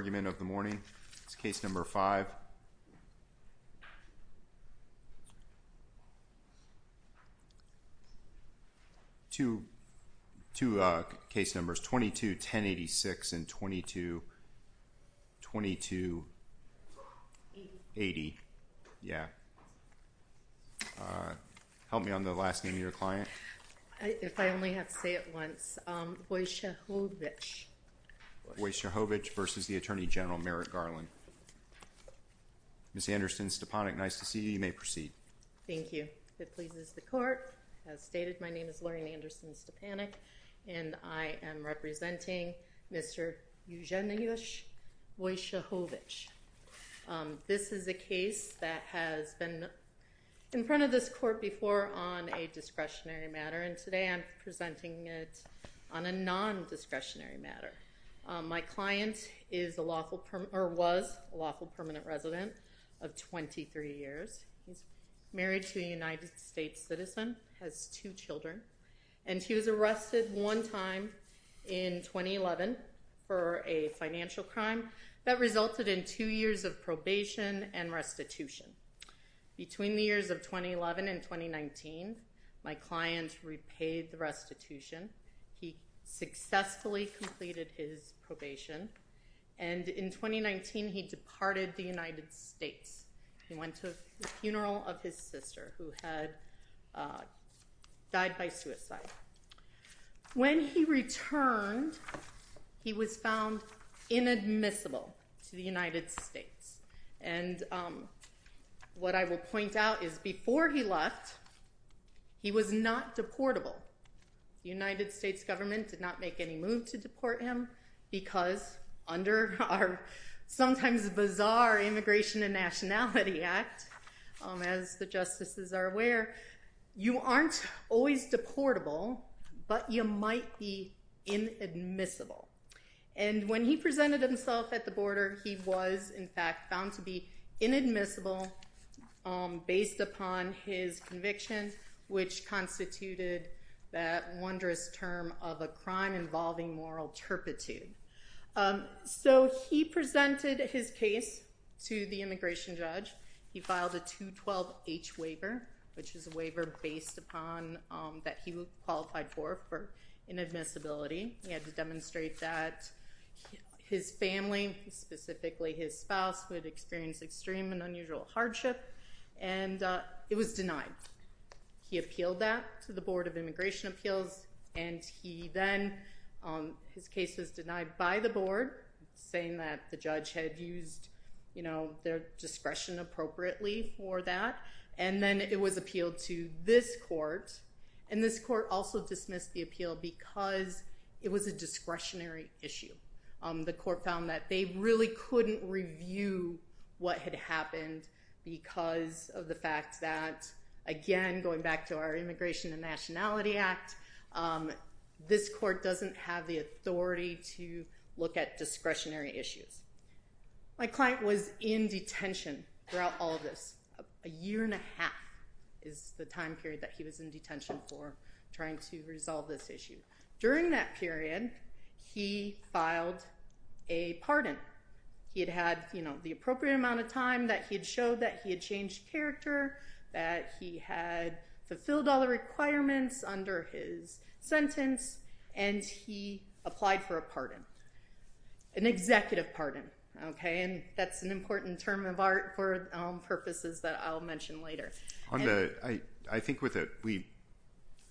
Argument of the morning. It's case number five. Two, two case numbers, 22-1086 and 22, 22-80. Yeah. Help me on the last name of your client. If I only have to say it once, Wojciechowicz. Wojciechowicz versus the Attorney General Merrick Garland. Ms. Anderson-Stepanek, nice to see you. You may proceed. Thank you. It pleases the court. As stated, my name is Lorraine Anderson-Stepanek and I am representing Mr. Eugeniusz Wojciechowicz. This is a case that has been in front of this court before on a discretionary matter. And today I'm presenting it on a non-discretionary matter. My client is a lawful or was a lawful permanent resident of 23 years. He's married to a United States citizen, has two children, and she was arrested one time in 2011 for a financial crime that resulted in two years of probation and restitution. Between the years of 2011 and 2019 my client repaid the restitution. He successfully completed his probation and in 2019 he departed the United States. He went to the funeral of his sister who had died by suicide. When he returned he was found inadmissible to the United States. And what I will point out is before he left he was not deportable. The United States government did not make any move to deport him because under our sometimes bizarre Immigration and Nationality Act, as the justices are aware, you aren't always deportable, but you might be inadmissible. And when he presented himself at the border, he was in fact found to be inadmissible based upon his conviction, which constituted that wondrous term of a crime involving moral turpitude. So he presented his case to the immigration judge. He filed a 212H waiver, which is a waiver based upon that he qualified for inadmissibility. He had to demonstrate that his family, specifically his spouse would experience extreme and unusual hardship and it was denied. He appealed that to the board of immigration appeals and he then his case was denied by the board saying that the judge had used their discretion appropriately for that. And then it was appealed to this court and this court also dismissed the appeal because it was a discretionary issue. The court found that they really couldn't review what had happened because of the fact that again, going back to our Immigration and Nationality Act, this court doesn't have the authority to look at discretionary issues. My client was in detention throughout all of this. A year and a half is the time period that he was in detention for trying to resolve this issue. During that period, he filed a pardon. He had had, you know, the appropriate amount of time that he had showed that he had changed character, that he had fulfilled all the requirements under his sentence and he applied for a pardon, an executive pardon. Okay. And that's an important term of art for all purposes that I'll mention later. On the, I think with it, we,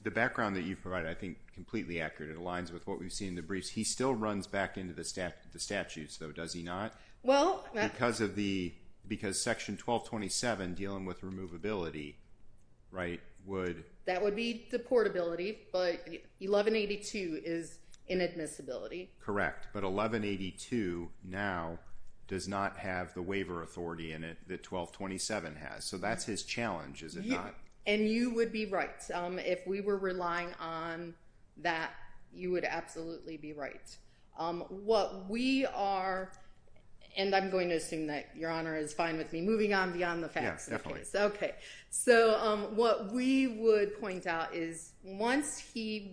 the background that you've provided, I think completely accurate. It aligns with what we've seen in the briefs. He still runs back into the statutes though, does he not? Well, because of the, because section 1227 dealing with removability, right, would that would be deportability, but 1182 is inadmissibility. Correct. But 1182 now does not have the waiver authority in it that 1227 has. So that's his challenge, is it not? And you would be right. If we were relying on that, you would absolutely be right. What we are, and I'm going to assume that your honor is fine with me moving on beyond the facts. Okay. So what we would point out is once he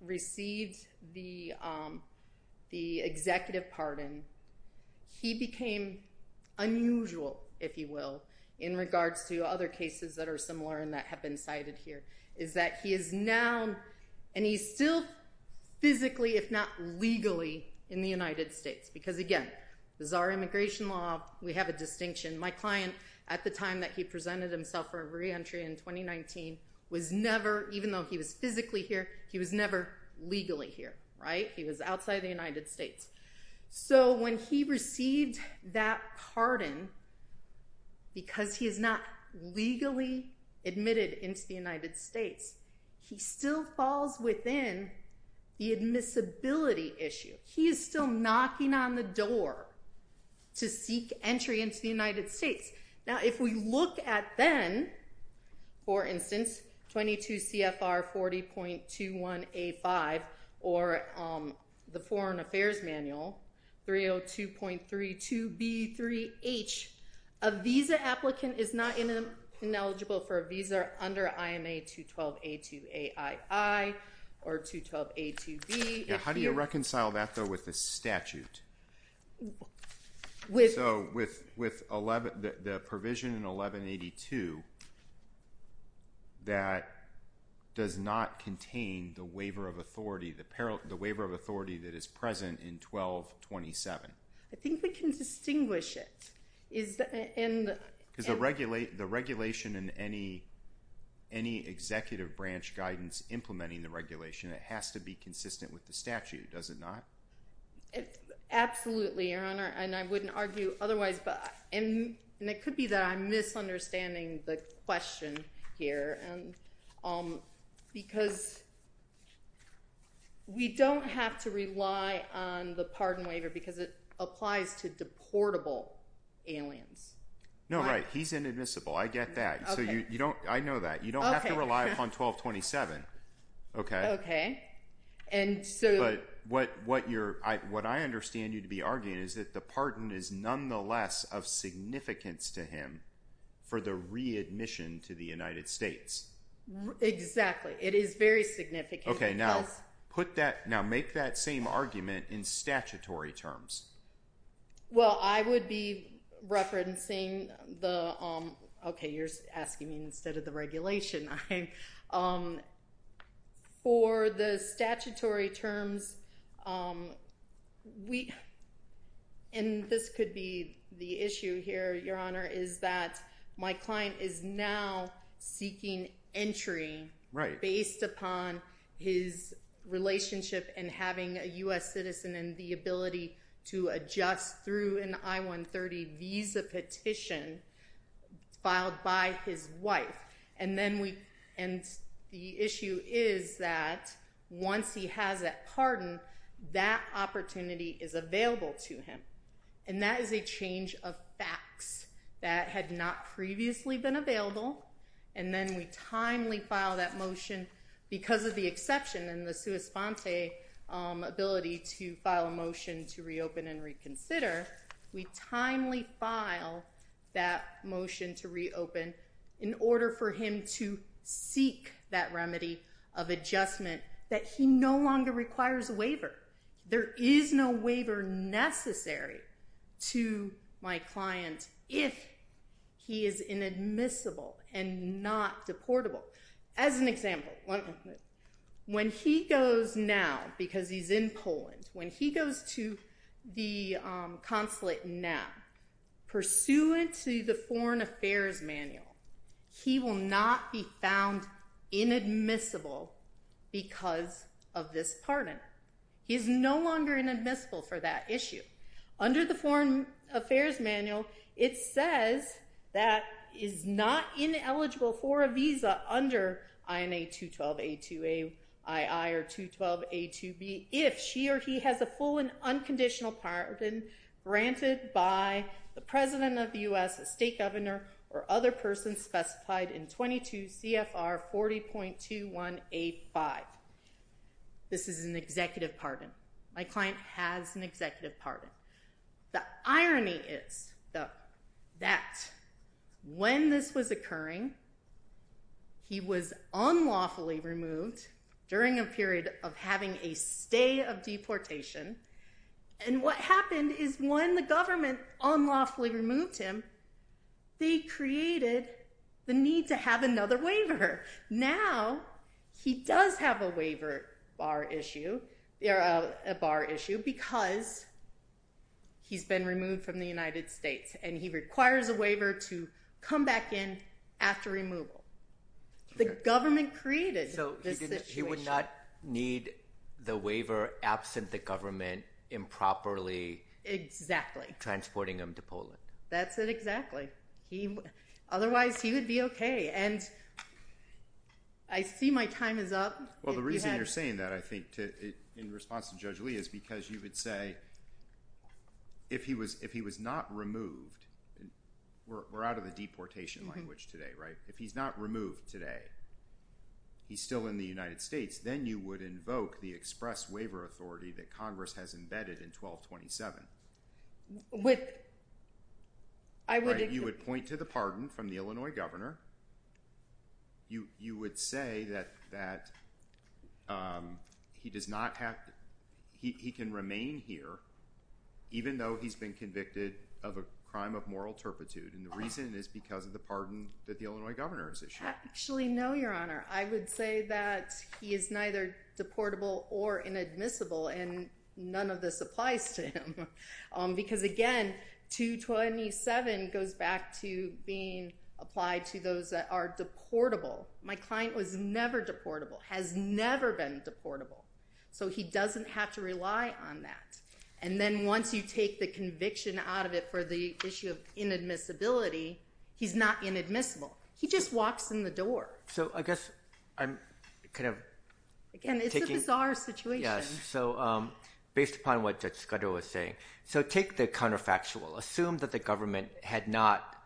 received the executive pardon, he became unusual, if you will, in regards to other cases that are similar and that have been cited here is that he is now, and he's still physically, if not legally in the United States, because again, the czar immigration law, we have a distinction. My client at the time that he presented himself for reentry in 2019 was never, even though he was physically here, he was never legally here, right? He was outside of the United States. So when he received that pardon, because he is not legally admitted into the United States, he still falls within the admissibility issue. He is still knocking on the door to seek entry into the United States. Now, if we look at then for instance, 22 CFR 40.21A5 or the foreign affairs manual 302.32B3H, a visa applicant is not ineligible for a visa under IMA 212A2AII or 212A2B. How do you reconcile that though with the statute? So with 11, the provision in 1182 that does not contain the waiver of authority, the peril, the waiver of authority that is present in 1227. I think we can distinguish it. Because the regulation in any executive branch guidance implementing the regulation, it has to be consistent with the statute, does it not? Absolutely, Your Honor. And I wouldn't argue otherwise, but it could be that I'm misunderstanding the question here because we don't have to rely on the pardon waiver because it applies to deportable aliens. No, right. He's inadmissible. I get that. So you, you don't, I know that. You don't have to rely upon 1227. Okay. Okay. And so what, what you're, what I understand you to be arguing is that the pardon is nonetheless of significance to him for the readmission to the United States. Exactly. It is very significant. Okay. Now put that, now make that same argument in statutory terms. Well, I would be referencing the, um, okay, you're asking me instead of the regulation. I, um, for the statutory terms, um, we, and this could be the issue here, Your Honor, is that my client is now seeking entry based upon the original his relationship and having a US citizen and the ability to adjust through an I-130 visa petition filed by his wife. And then we, and the issue is that once he has that pardon, that opportunity is available to him. And that is a change of facts that had not previously been available. And then we timely file that motion because of the exception and the sua sponte ability to file a motion to reopen and reconsider. We timely file that motion to reopen in order for him to seek that remedy of adjustment that he no longer requires a waiver. There is no waiver necessary to my client if he is inadmissible. And not deportable. As an example, when he goes now because he's in Poland, when he goes to the consulate now pursuant to the foreign affairs manual, he will not be found inadmissible because of this pardon. He is no longer inadmissible for that issue. Under the foreign affairs manual, it says that is not ineligible for a visa under INA 212A2AII or 212A2B if she or he has a full and unconditional pardon granted by the president of the US state governor or other person specified in 22 CFR 40.21A5. This is an executive pardon. My client has an executive pardon. The irony is that when this was occurring, he was unlawfully removed during a period of having a stay of deportation. And what happened is when the government unlawfully removed him, they created the need to have another waiver. Now he does have a waiver bar issue. There are a bar issue because he's been removed from the United States and he requires a waiver to come back in after removal. The government created this situation. He would not need the waiver absent the government improperly transporting him to Poland. That's it. Exactly. He, otherwise he would be okay. And I see my time is up. Well, the reason you're saying that, I think in response to judge Lee is because you would say if he was, if he was not removed, we're out of the deportation language today, right? If he's not removed today, he's still in the United States. Then you would invoke the express waiver authority that Congress has embedded in 1227. I would point to the pardon from the Illinois governor. You, you would say that, that, um, he does not have, he can remain here even though he's been convicted of a crime of moral turpitude. And the reason is because of the pardon that the Illinois governor has issued. Actually, no, Your Honor, I would say that he is neither deportable or inadmissible and none of this applies to him. Um, because again, 227 goes back to being applied to those that are deportable. My client was never deportable, has never been deportable. So he doesn't have to rely on that. And then once you take the conviction out of it for the issue of inadmissibility, he's not inadmissible. He just walks in the door. So I guess I'm kind of, again, it's a bizarre situation. Yes. So, um, based upon what Judge Scudero was saying, so take the counterfactual, assume that the government had not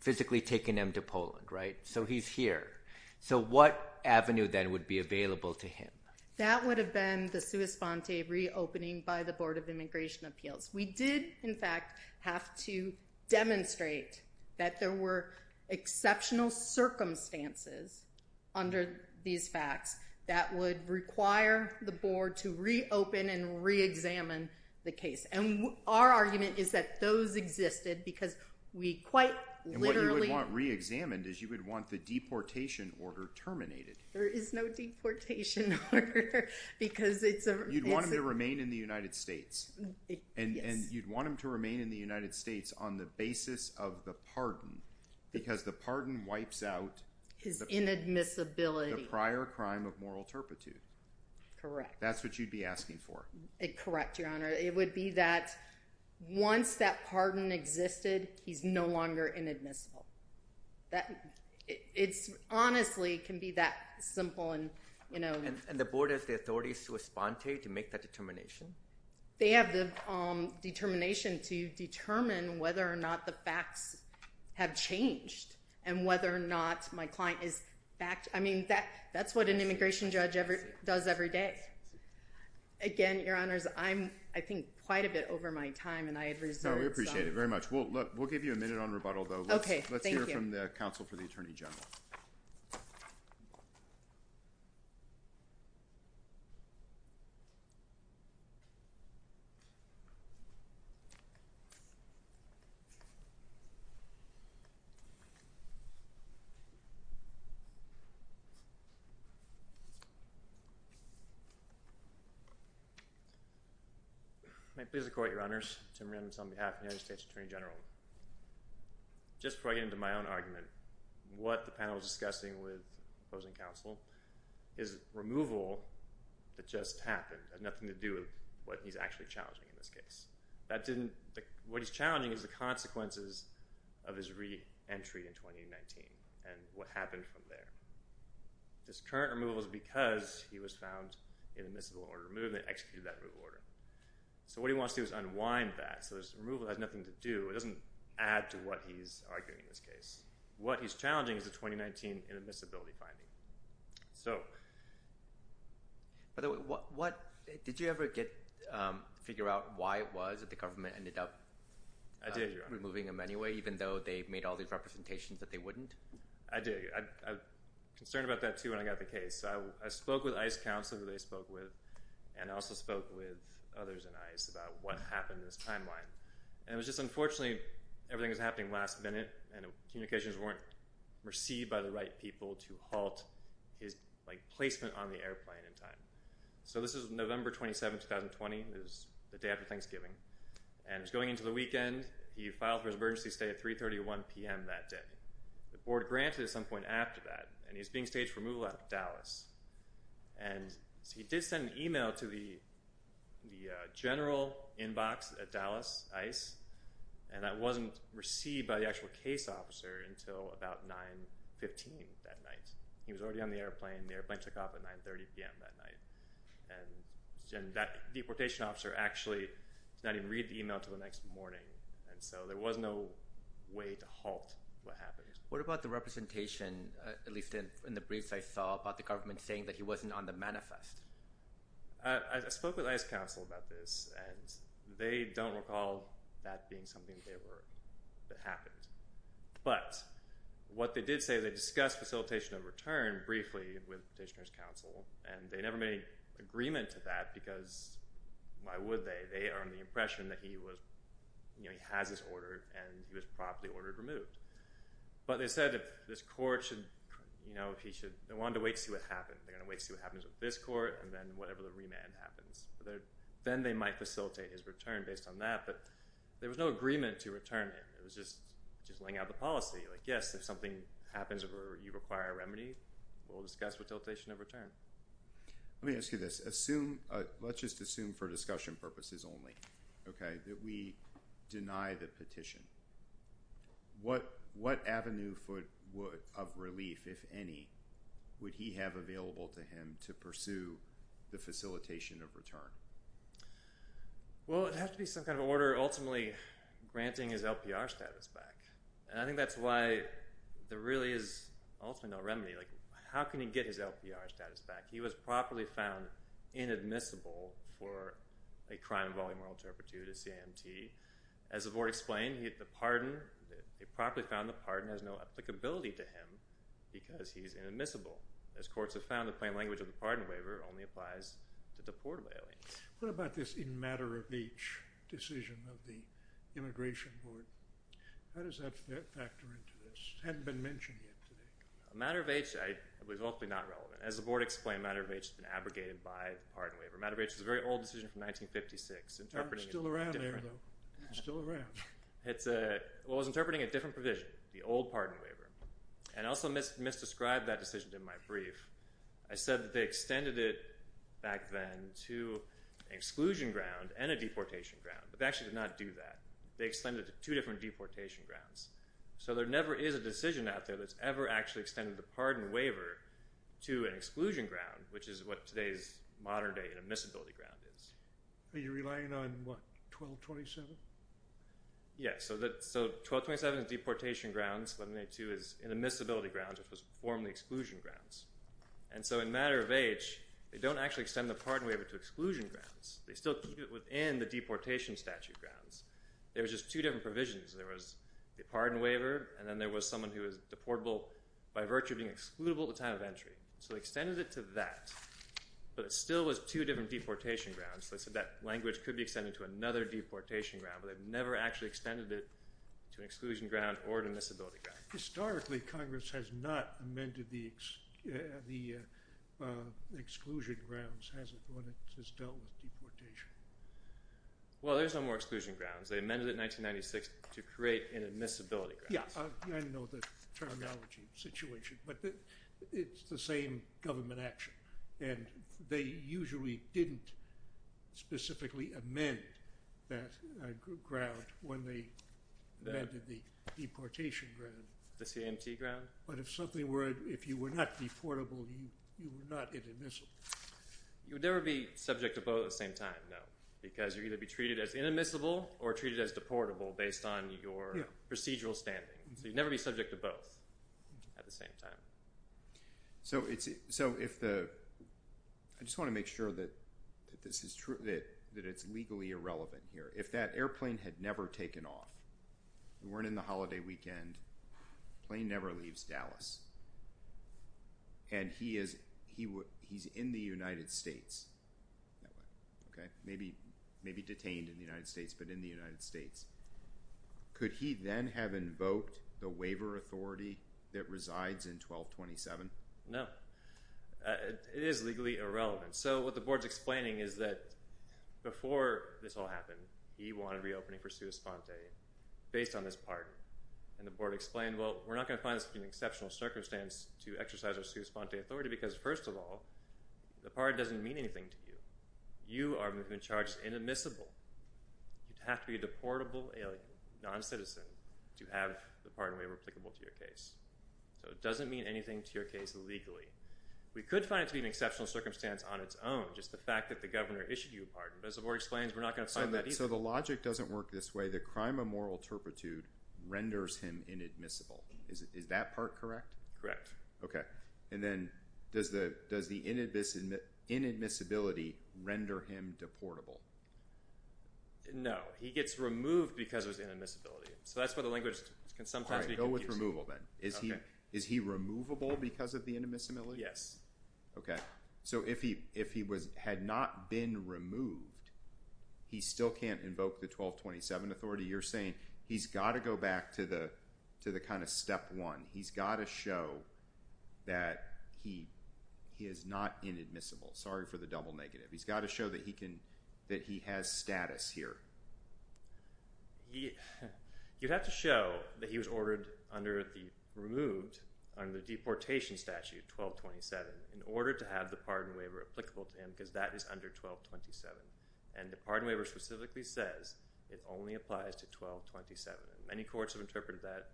physically taken him to Poland, right? So he's here. So what avenue then would be available to him? That would have been the sua sponte reopening by the board of immigration appeals. We did in fact have to demonstrate that there were exceptional circumstances under these facts that would require, the board to reopen and re-examine the case. And our argument is that those existed because we quite literally... And what you would want re-examined is you would want the deportation order terminated. There is no deportation order because it's a... You'd want him to remain in the United States and you'd want him to remain in the United States on the basis of the pardon because the pardon wipes out... His inadmissibility. The prior crime of moral turpitude. Correct. That's what you'd be asking for. Correct, Your Honor. It would be that once that pardon existed, he's no longer inadmissible. That it's honestly can be that simple. And, you know... And the board has the authorities sua sponte to make that determination? They have the determination to determine whether or not the facts have changed and whether or not my client is back. I mean, that's what an immigration judge does every day. Again, Your Honors, I'm, I think, quite a bit over my time and I had reserved... No, we appreciate it very much. We'll give you a minute on rebuttal though. Let's hear from the counsel for the Attorney General. May I please have the court, Your Honors? Tim Rand on behalf of the United States Attorney General. Just before I get into my own argument, what the panel is discussing with opposing counsel is removal that just happened. It has nothing to do with what he's actually challenging in this case. That didn't, what he's challenging is the consequences of his re-entry in 2019 and what happened from there. This current removal is because he was found in admissible order of movement and executed that removal order. So what he wants to do is unwind that. So this removal has nothing to do, it doesn't add to what he's arguing in this case. What he's challenging is the 2019 inadmissibility finding. So... By the way, what, what, did you ever get, um, figure out why it was that the government ended up removing him anyway, even though they made all these representations that they wouldn't? I did. I was concerned about that too when I got the case. So I spoke with ICE counsel who they spoke with and also spoke with others in ICE about what happened in this timeline. And it was just, unfortunately everything was happening last minute and communications weren't received by the right people to halt his placement on the airplane in time. So this was November 27, 2020. It was the day after Thanksgiving. And it was going into the weekend. He filed for his emergency stay at 3.31 PM that day. The board granted at some point after that and he was being staged for removal out of Dallas. And so he did send an email to the, the, uh, general inbox at Dallas ICE and that wasn't received by the actual case officer until about 9.15 that night. He was already on the airplane. The airplane took off at 9.30 PM that night and that deportation officer actually did not even read the email until the next morning. And so there was no way to halt what happened. What about the representation, at least in the briefs I saw about the government saying that he wasn't on the manifest? I spoke with ICE counsel about this and they don't recall that being something that they were, that happened. But what they did say they discussed facilitation of return briefly with petitioners counsel and they never made agreement to that because why would they? They are on the impression that he was, you know, he has his order and he was properly ordered removed. But they said if this court should, you know, if he should, they wanted to wait and see what happened. They're going to wait and see what happens with this court and then whatever the remand happens, then they might facilitate his return based on that. But there was no agreement to return it. It was just, just laying out the policy like, yes, if something happens where you require a remedy, we'll discuss with dilatation of return. Let me ask you this. Assume, let's just assume for discussion purposes only, okay, that we deny the petition. What, what avenue foot of relief, if any, would he have available to him to pursue the facilitation of return? Well, it'd have to be some kind of order, ultimately granting his LPR status back. And I think that's why there really is ultimately no remedy. Like how can he get his LPR status back? He was properly found inadmissible for a crime involving moral turpitude, a CIMT. As the board explained, he had the pardon. They properly found the pardon has no applicability to him because he's inadmissible. As courts have found the plain language of the pardon waiver only applies to deportable aliens. What about this in matter of age decision of the immigration board? How does that factor into this? It hadn't been mentioned yet. A matter of age, it was ultimately not relevant. As the board explained, a matter of age has been abrogated by the pardon waiver. A matter of age is a very old decision from 1956. Still around there though. It's still around. It's a, well it was interpreting a different provision, the old pardon waiver. And I also misdescribed that decision in my brief. I said that they extended it back then to an exclusion ground and a deportation ground, but they actually did not do that. They extended it to two different deportation grounds. So there never is a decision out there that's ever actually extended the pardon waiver to an exclusion ground, which is what today's modern day inadmissibility ground is. Are you relying on what, 1227? Yes. So that, so 1227 is deportation grounds. 1182 is inadmissibility grounds, which was formerly exclusion grounds. And so in matter of age, they don't actually extend the pardon waiver to exclusion grounds. They still keep it within the deportation statute grounds. There was just two different provisions. There was the pardon waiver, and then there was someone who was deportable by virtue of being excludable at the time of entry. So they extended it to that, but it still was two different deportation grounds. So they said that language could be extended to another deportation ground, but they've never actually extended it to an exclusion ground or to an admissibility ground. Historically, Congress has not amended the exclusion grounds, has it, when it has dealt with deportation? Well, there's no more exclusion grounds. They amended it in 1996 to create inadmissibility grounds. Yeah, I know the terminology situation, but it's the same government action. And they usually didn't specifically amend that ground when they amended the deportation ground. The CMT ground? But if something were, if you were not deportable, you were not inadmissible. You would never be subject to both at the same time, no, because you're going to be treated as inadmissible or treated as deportable based on your procedural standing. So you'd never be subject to both at the same time. So it's, so if the, I just want to make sure that this is true, that it's legally irrelevant here. If that airplane had never taken off, we weren't in the holiday weekend, plane never leaves Dallas. And he is, he would, he's in the United States. Okay. Maybe, maybe detained in the United States, but in the United States, could he then have invoked the waiver authority that resides in 1227? No, it is legally irrelevant. So what the board's explaining is that before this all happened, he wanted reopening for sui sponte based on this part. And the board explained, well, we're not going to find this to be an exceptional circumstance to exercise our sui sponte authority. Because first of all, the pardon doesn't mean anything to you. You are moving charged inadmissible. You'd have to be a deportable non-citizen to have the pardon waiver applicable to your case. So it doesn't mean anything to your case legally. We could find it to be an exceptional circumstance on its own. Just the fact that the governor issued you a pardon. But as the board explains, we're not going to find that easy. So the logic doesn't work this way. The crime of moral turpitude renders him inadmissible. Is that part correct? Correct. Okay. And then does the, does the inadmissibility render him deportable? No, he gets removed because it was inadmissibility. So that's where the language can sometimes be confusing. Go with removal then. Is he, is he removable because of the inadmissibility? Yes. Okay. So if he, if he was, had not been removed, he still can't invoke the 1227 authority. You're saying he's got to go back to the, to the kind of step one. He's got to show that he, he is not inadmissible. Sorry for the double negative. He's got to show that he can, that he has status here. You'd have to show that he was ordered under the removed, under the deportation statute 1227 in order to have the pardon waiver applicable to him because that is under 1227. And the pardon waiver specifically says it only applies to 1227. Many courts have interpreted that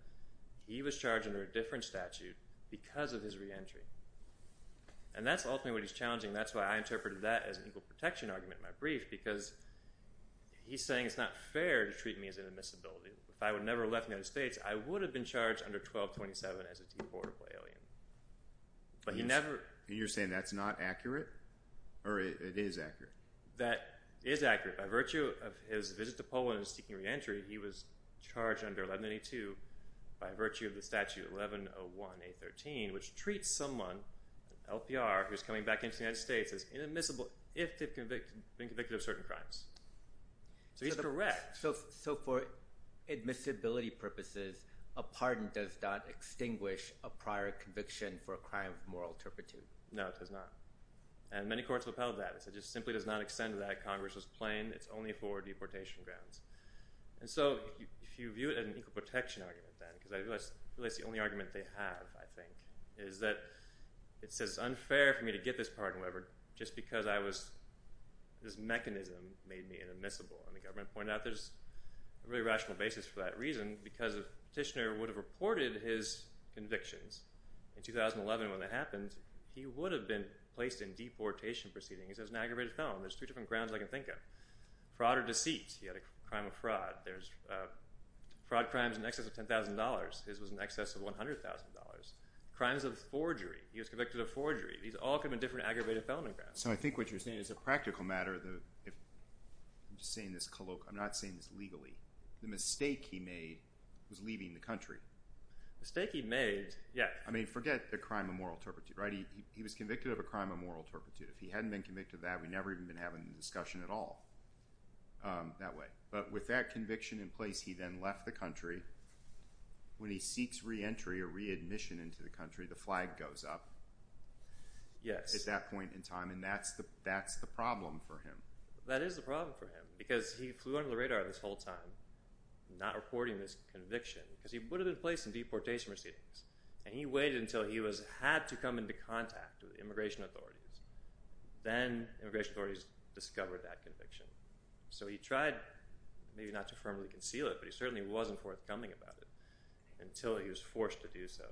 he was charged under a different statute because of his reentry. And that's ultimately what he's challenging. That's why I interpreted that as an equal protection argument in my brief, because he's saying it's not fair to treat me as inadmissibility. If I would have never left the United States, I would have been charged under 1227 as a deportable alien. But he never. You're saying that's not accurate or it is accurate? That is accurate. By virtue of his visit to Poland and seeking reentry, he was charged under 1192 by virtue of the statute 1101A13, which treats someone, LPR, who's coming back into the United States as inadmissible if they've been convicted of certain crimes. So he's correct. So for admissibility purposes, a pardon does not extinguish a prior conviction for a crime of moral turpitude. No, it does not. And many courts have upheld that. It just simply does not extend to that Congress was playing. It's only for deportation grounds. And so if you view it as an equal protection argument then, because I realize the only argument they have, I think, is that it says it's unfair for me to get this pardon, whatever, just because I was, this mechanism made me inadmissible and the government pointed out there's a really rational basis for that reason, because if Petitioner would have reported his convictions in 2011 when that happened, he would have been placed in deportation proceedings as an aggravated felon. There's two different grounds I can think of. Fraud or deceit. He had a crime of fraud. There's a fraud crimes in excess of $10,000. His was in excess of $100,000. Crimes of forgery. He was convicted of forgery. These all come in different aggravated felony grounds. So I think what you're saying is a practical matter. The, if I'm just saying this colloquial, I'm not saying this legally, the mistake he made was leaving the country. Mistake he made. Yeah. I mean forget the crime of moral turpitude, right? He was convicted of a crime of moral turpitude. If he hadn't been convicted of that, we never even been having the discussion at all. Um, that way. But with that conviction in place, he then left the country. When he seeks reentry or readmission into the country, the flag goes up. Yes. At that point in time. And that's the, that's the problem for him. That is the problem for him because he flew under the radar this whole time, not reporting this conviction because he would have been placed in deportation proceedings and he waited until he was had to come into contact with immigration authorities. Then immigration authorities discovered that conviction. So he tried maybe not to firmly conceal it, but he certainly wasn't forthcoming about it until he was forced to do so.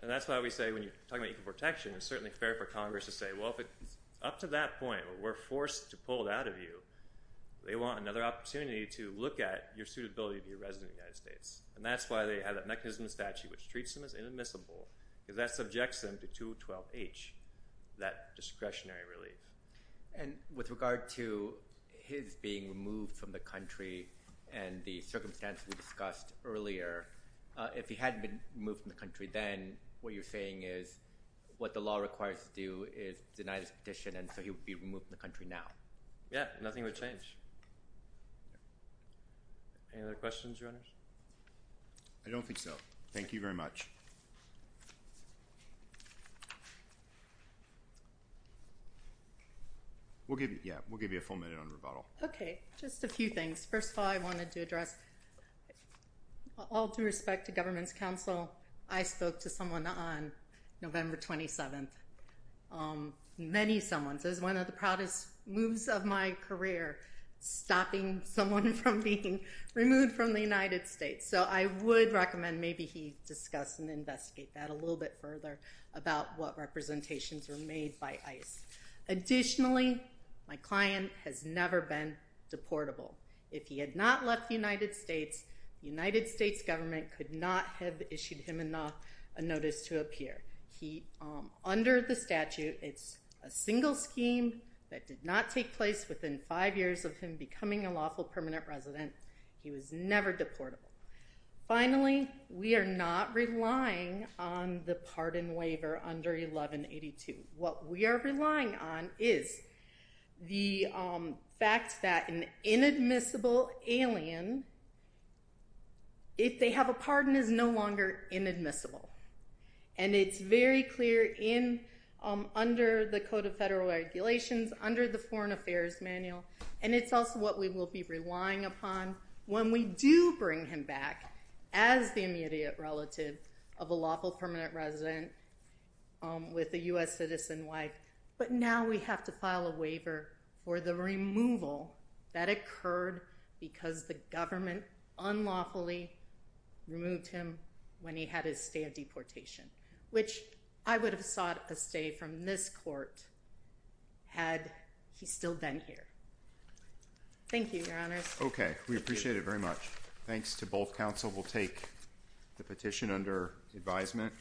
And that's why we say when you're talking about equal protection, it's certainly fair for Congress to say, well, if it's up to that point where we're forced to pull it out of you, they want another opportunity to look at your suitability to your resident United States. And that's why they have that mechanism statute, which treats them as inadmissible because that subjects them to two 12 H. That discretionary relief. And with regard to his being removed from the country and the circumstance we discussed earlier, uh, if he hadn't been moved from the country, then what you're saying is what the law requires to do is deny this petition. And so he would be removed from the country now. Yeah. Nothing would change. Any other questions? I don't think so. Thank you very much. Okay. We'll give you, yeah, we'll give you a full minute on rebuttal. Okay. Just a few things. First of all, I wanted to address all due respect to government's counsel. I spoke to someone on November 27th. Um, many someone says one of the proudest moves of my career, stopping someone from being removed from the United States. So I would recommend maybe he discussed and investigate that a little bit further about what representations were made by ICE. Additionally, my client has never been deportable. If he had not left the United States, the United States government could not have issued him enough, a notice to appear. He, um, under the statute, it's a single scheme that did not take place within five years of him becoming a lawful permanent resident. He was never deportable. Finally, we are not relying on the pardon waiver under 1182. What we are relying on is the, um, fact that an inadmissible alien, if they have a pardon is no longer inadmissible. And it's very clear in, um, under the code of federal regulations under the foreign affairs manual. And it's also what we will be relying upon when we do bring him back as the immediate relative of a lawful permanent resident, um, with the U S citizen wife. But now we have to file a waiver for the removal that occurred because the government unlawfully removed him when he had his stay of deportation, which I would have sought a stay from this court had he still been here. Thank you, your honors. Okay. We appreciate it very much. Thanks to both. Council will take the petition under advisement.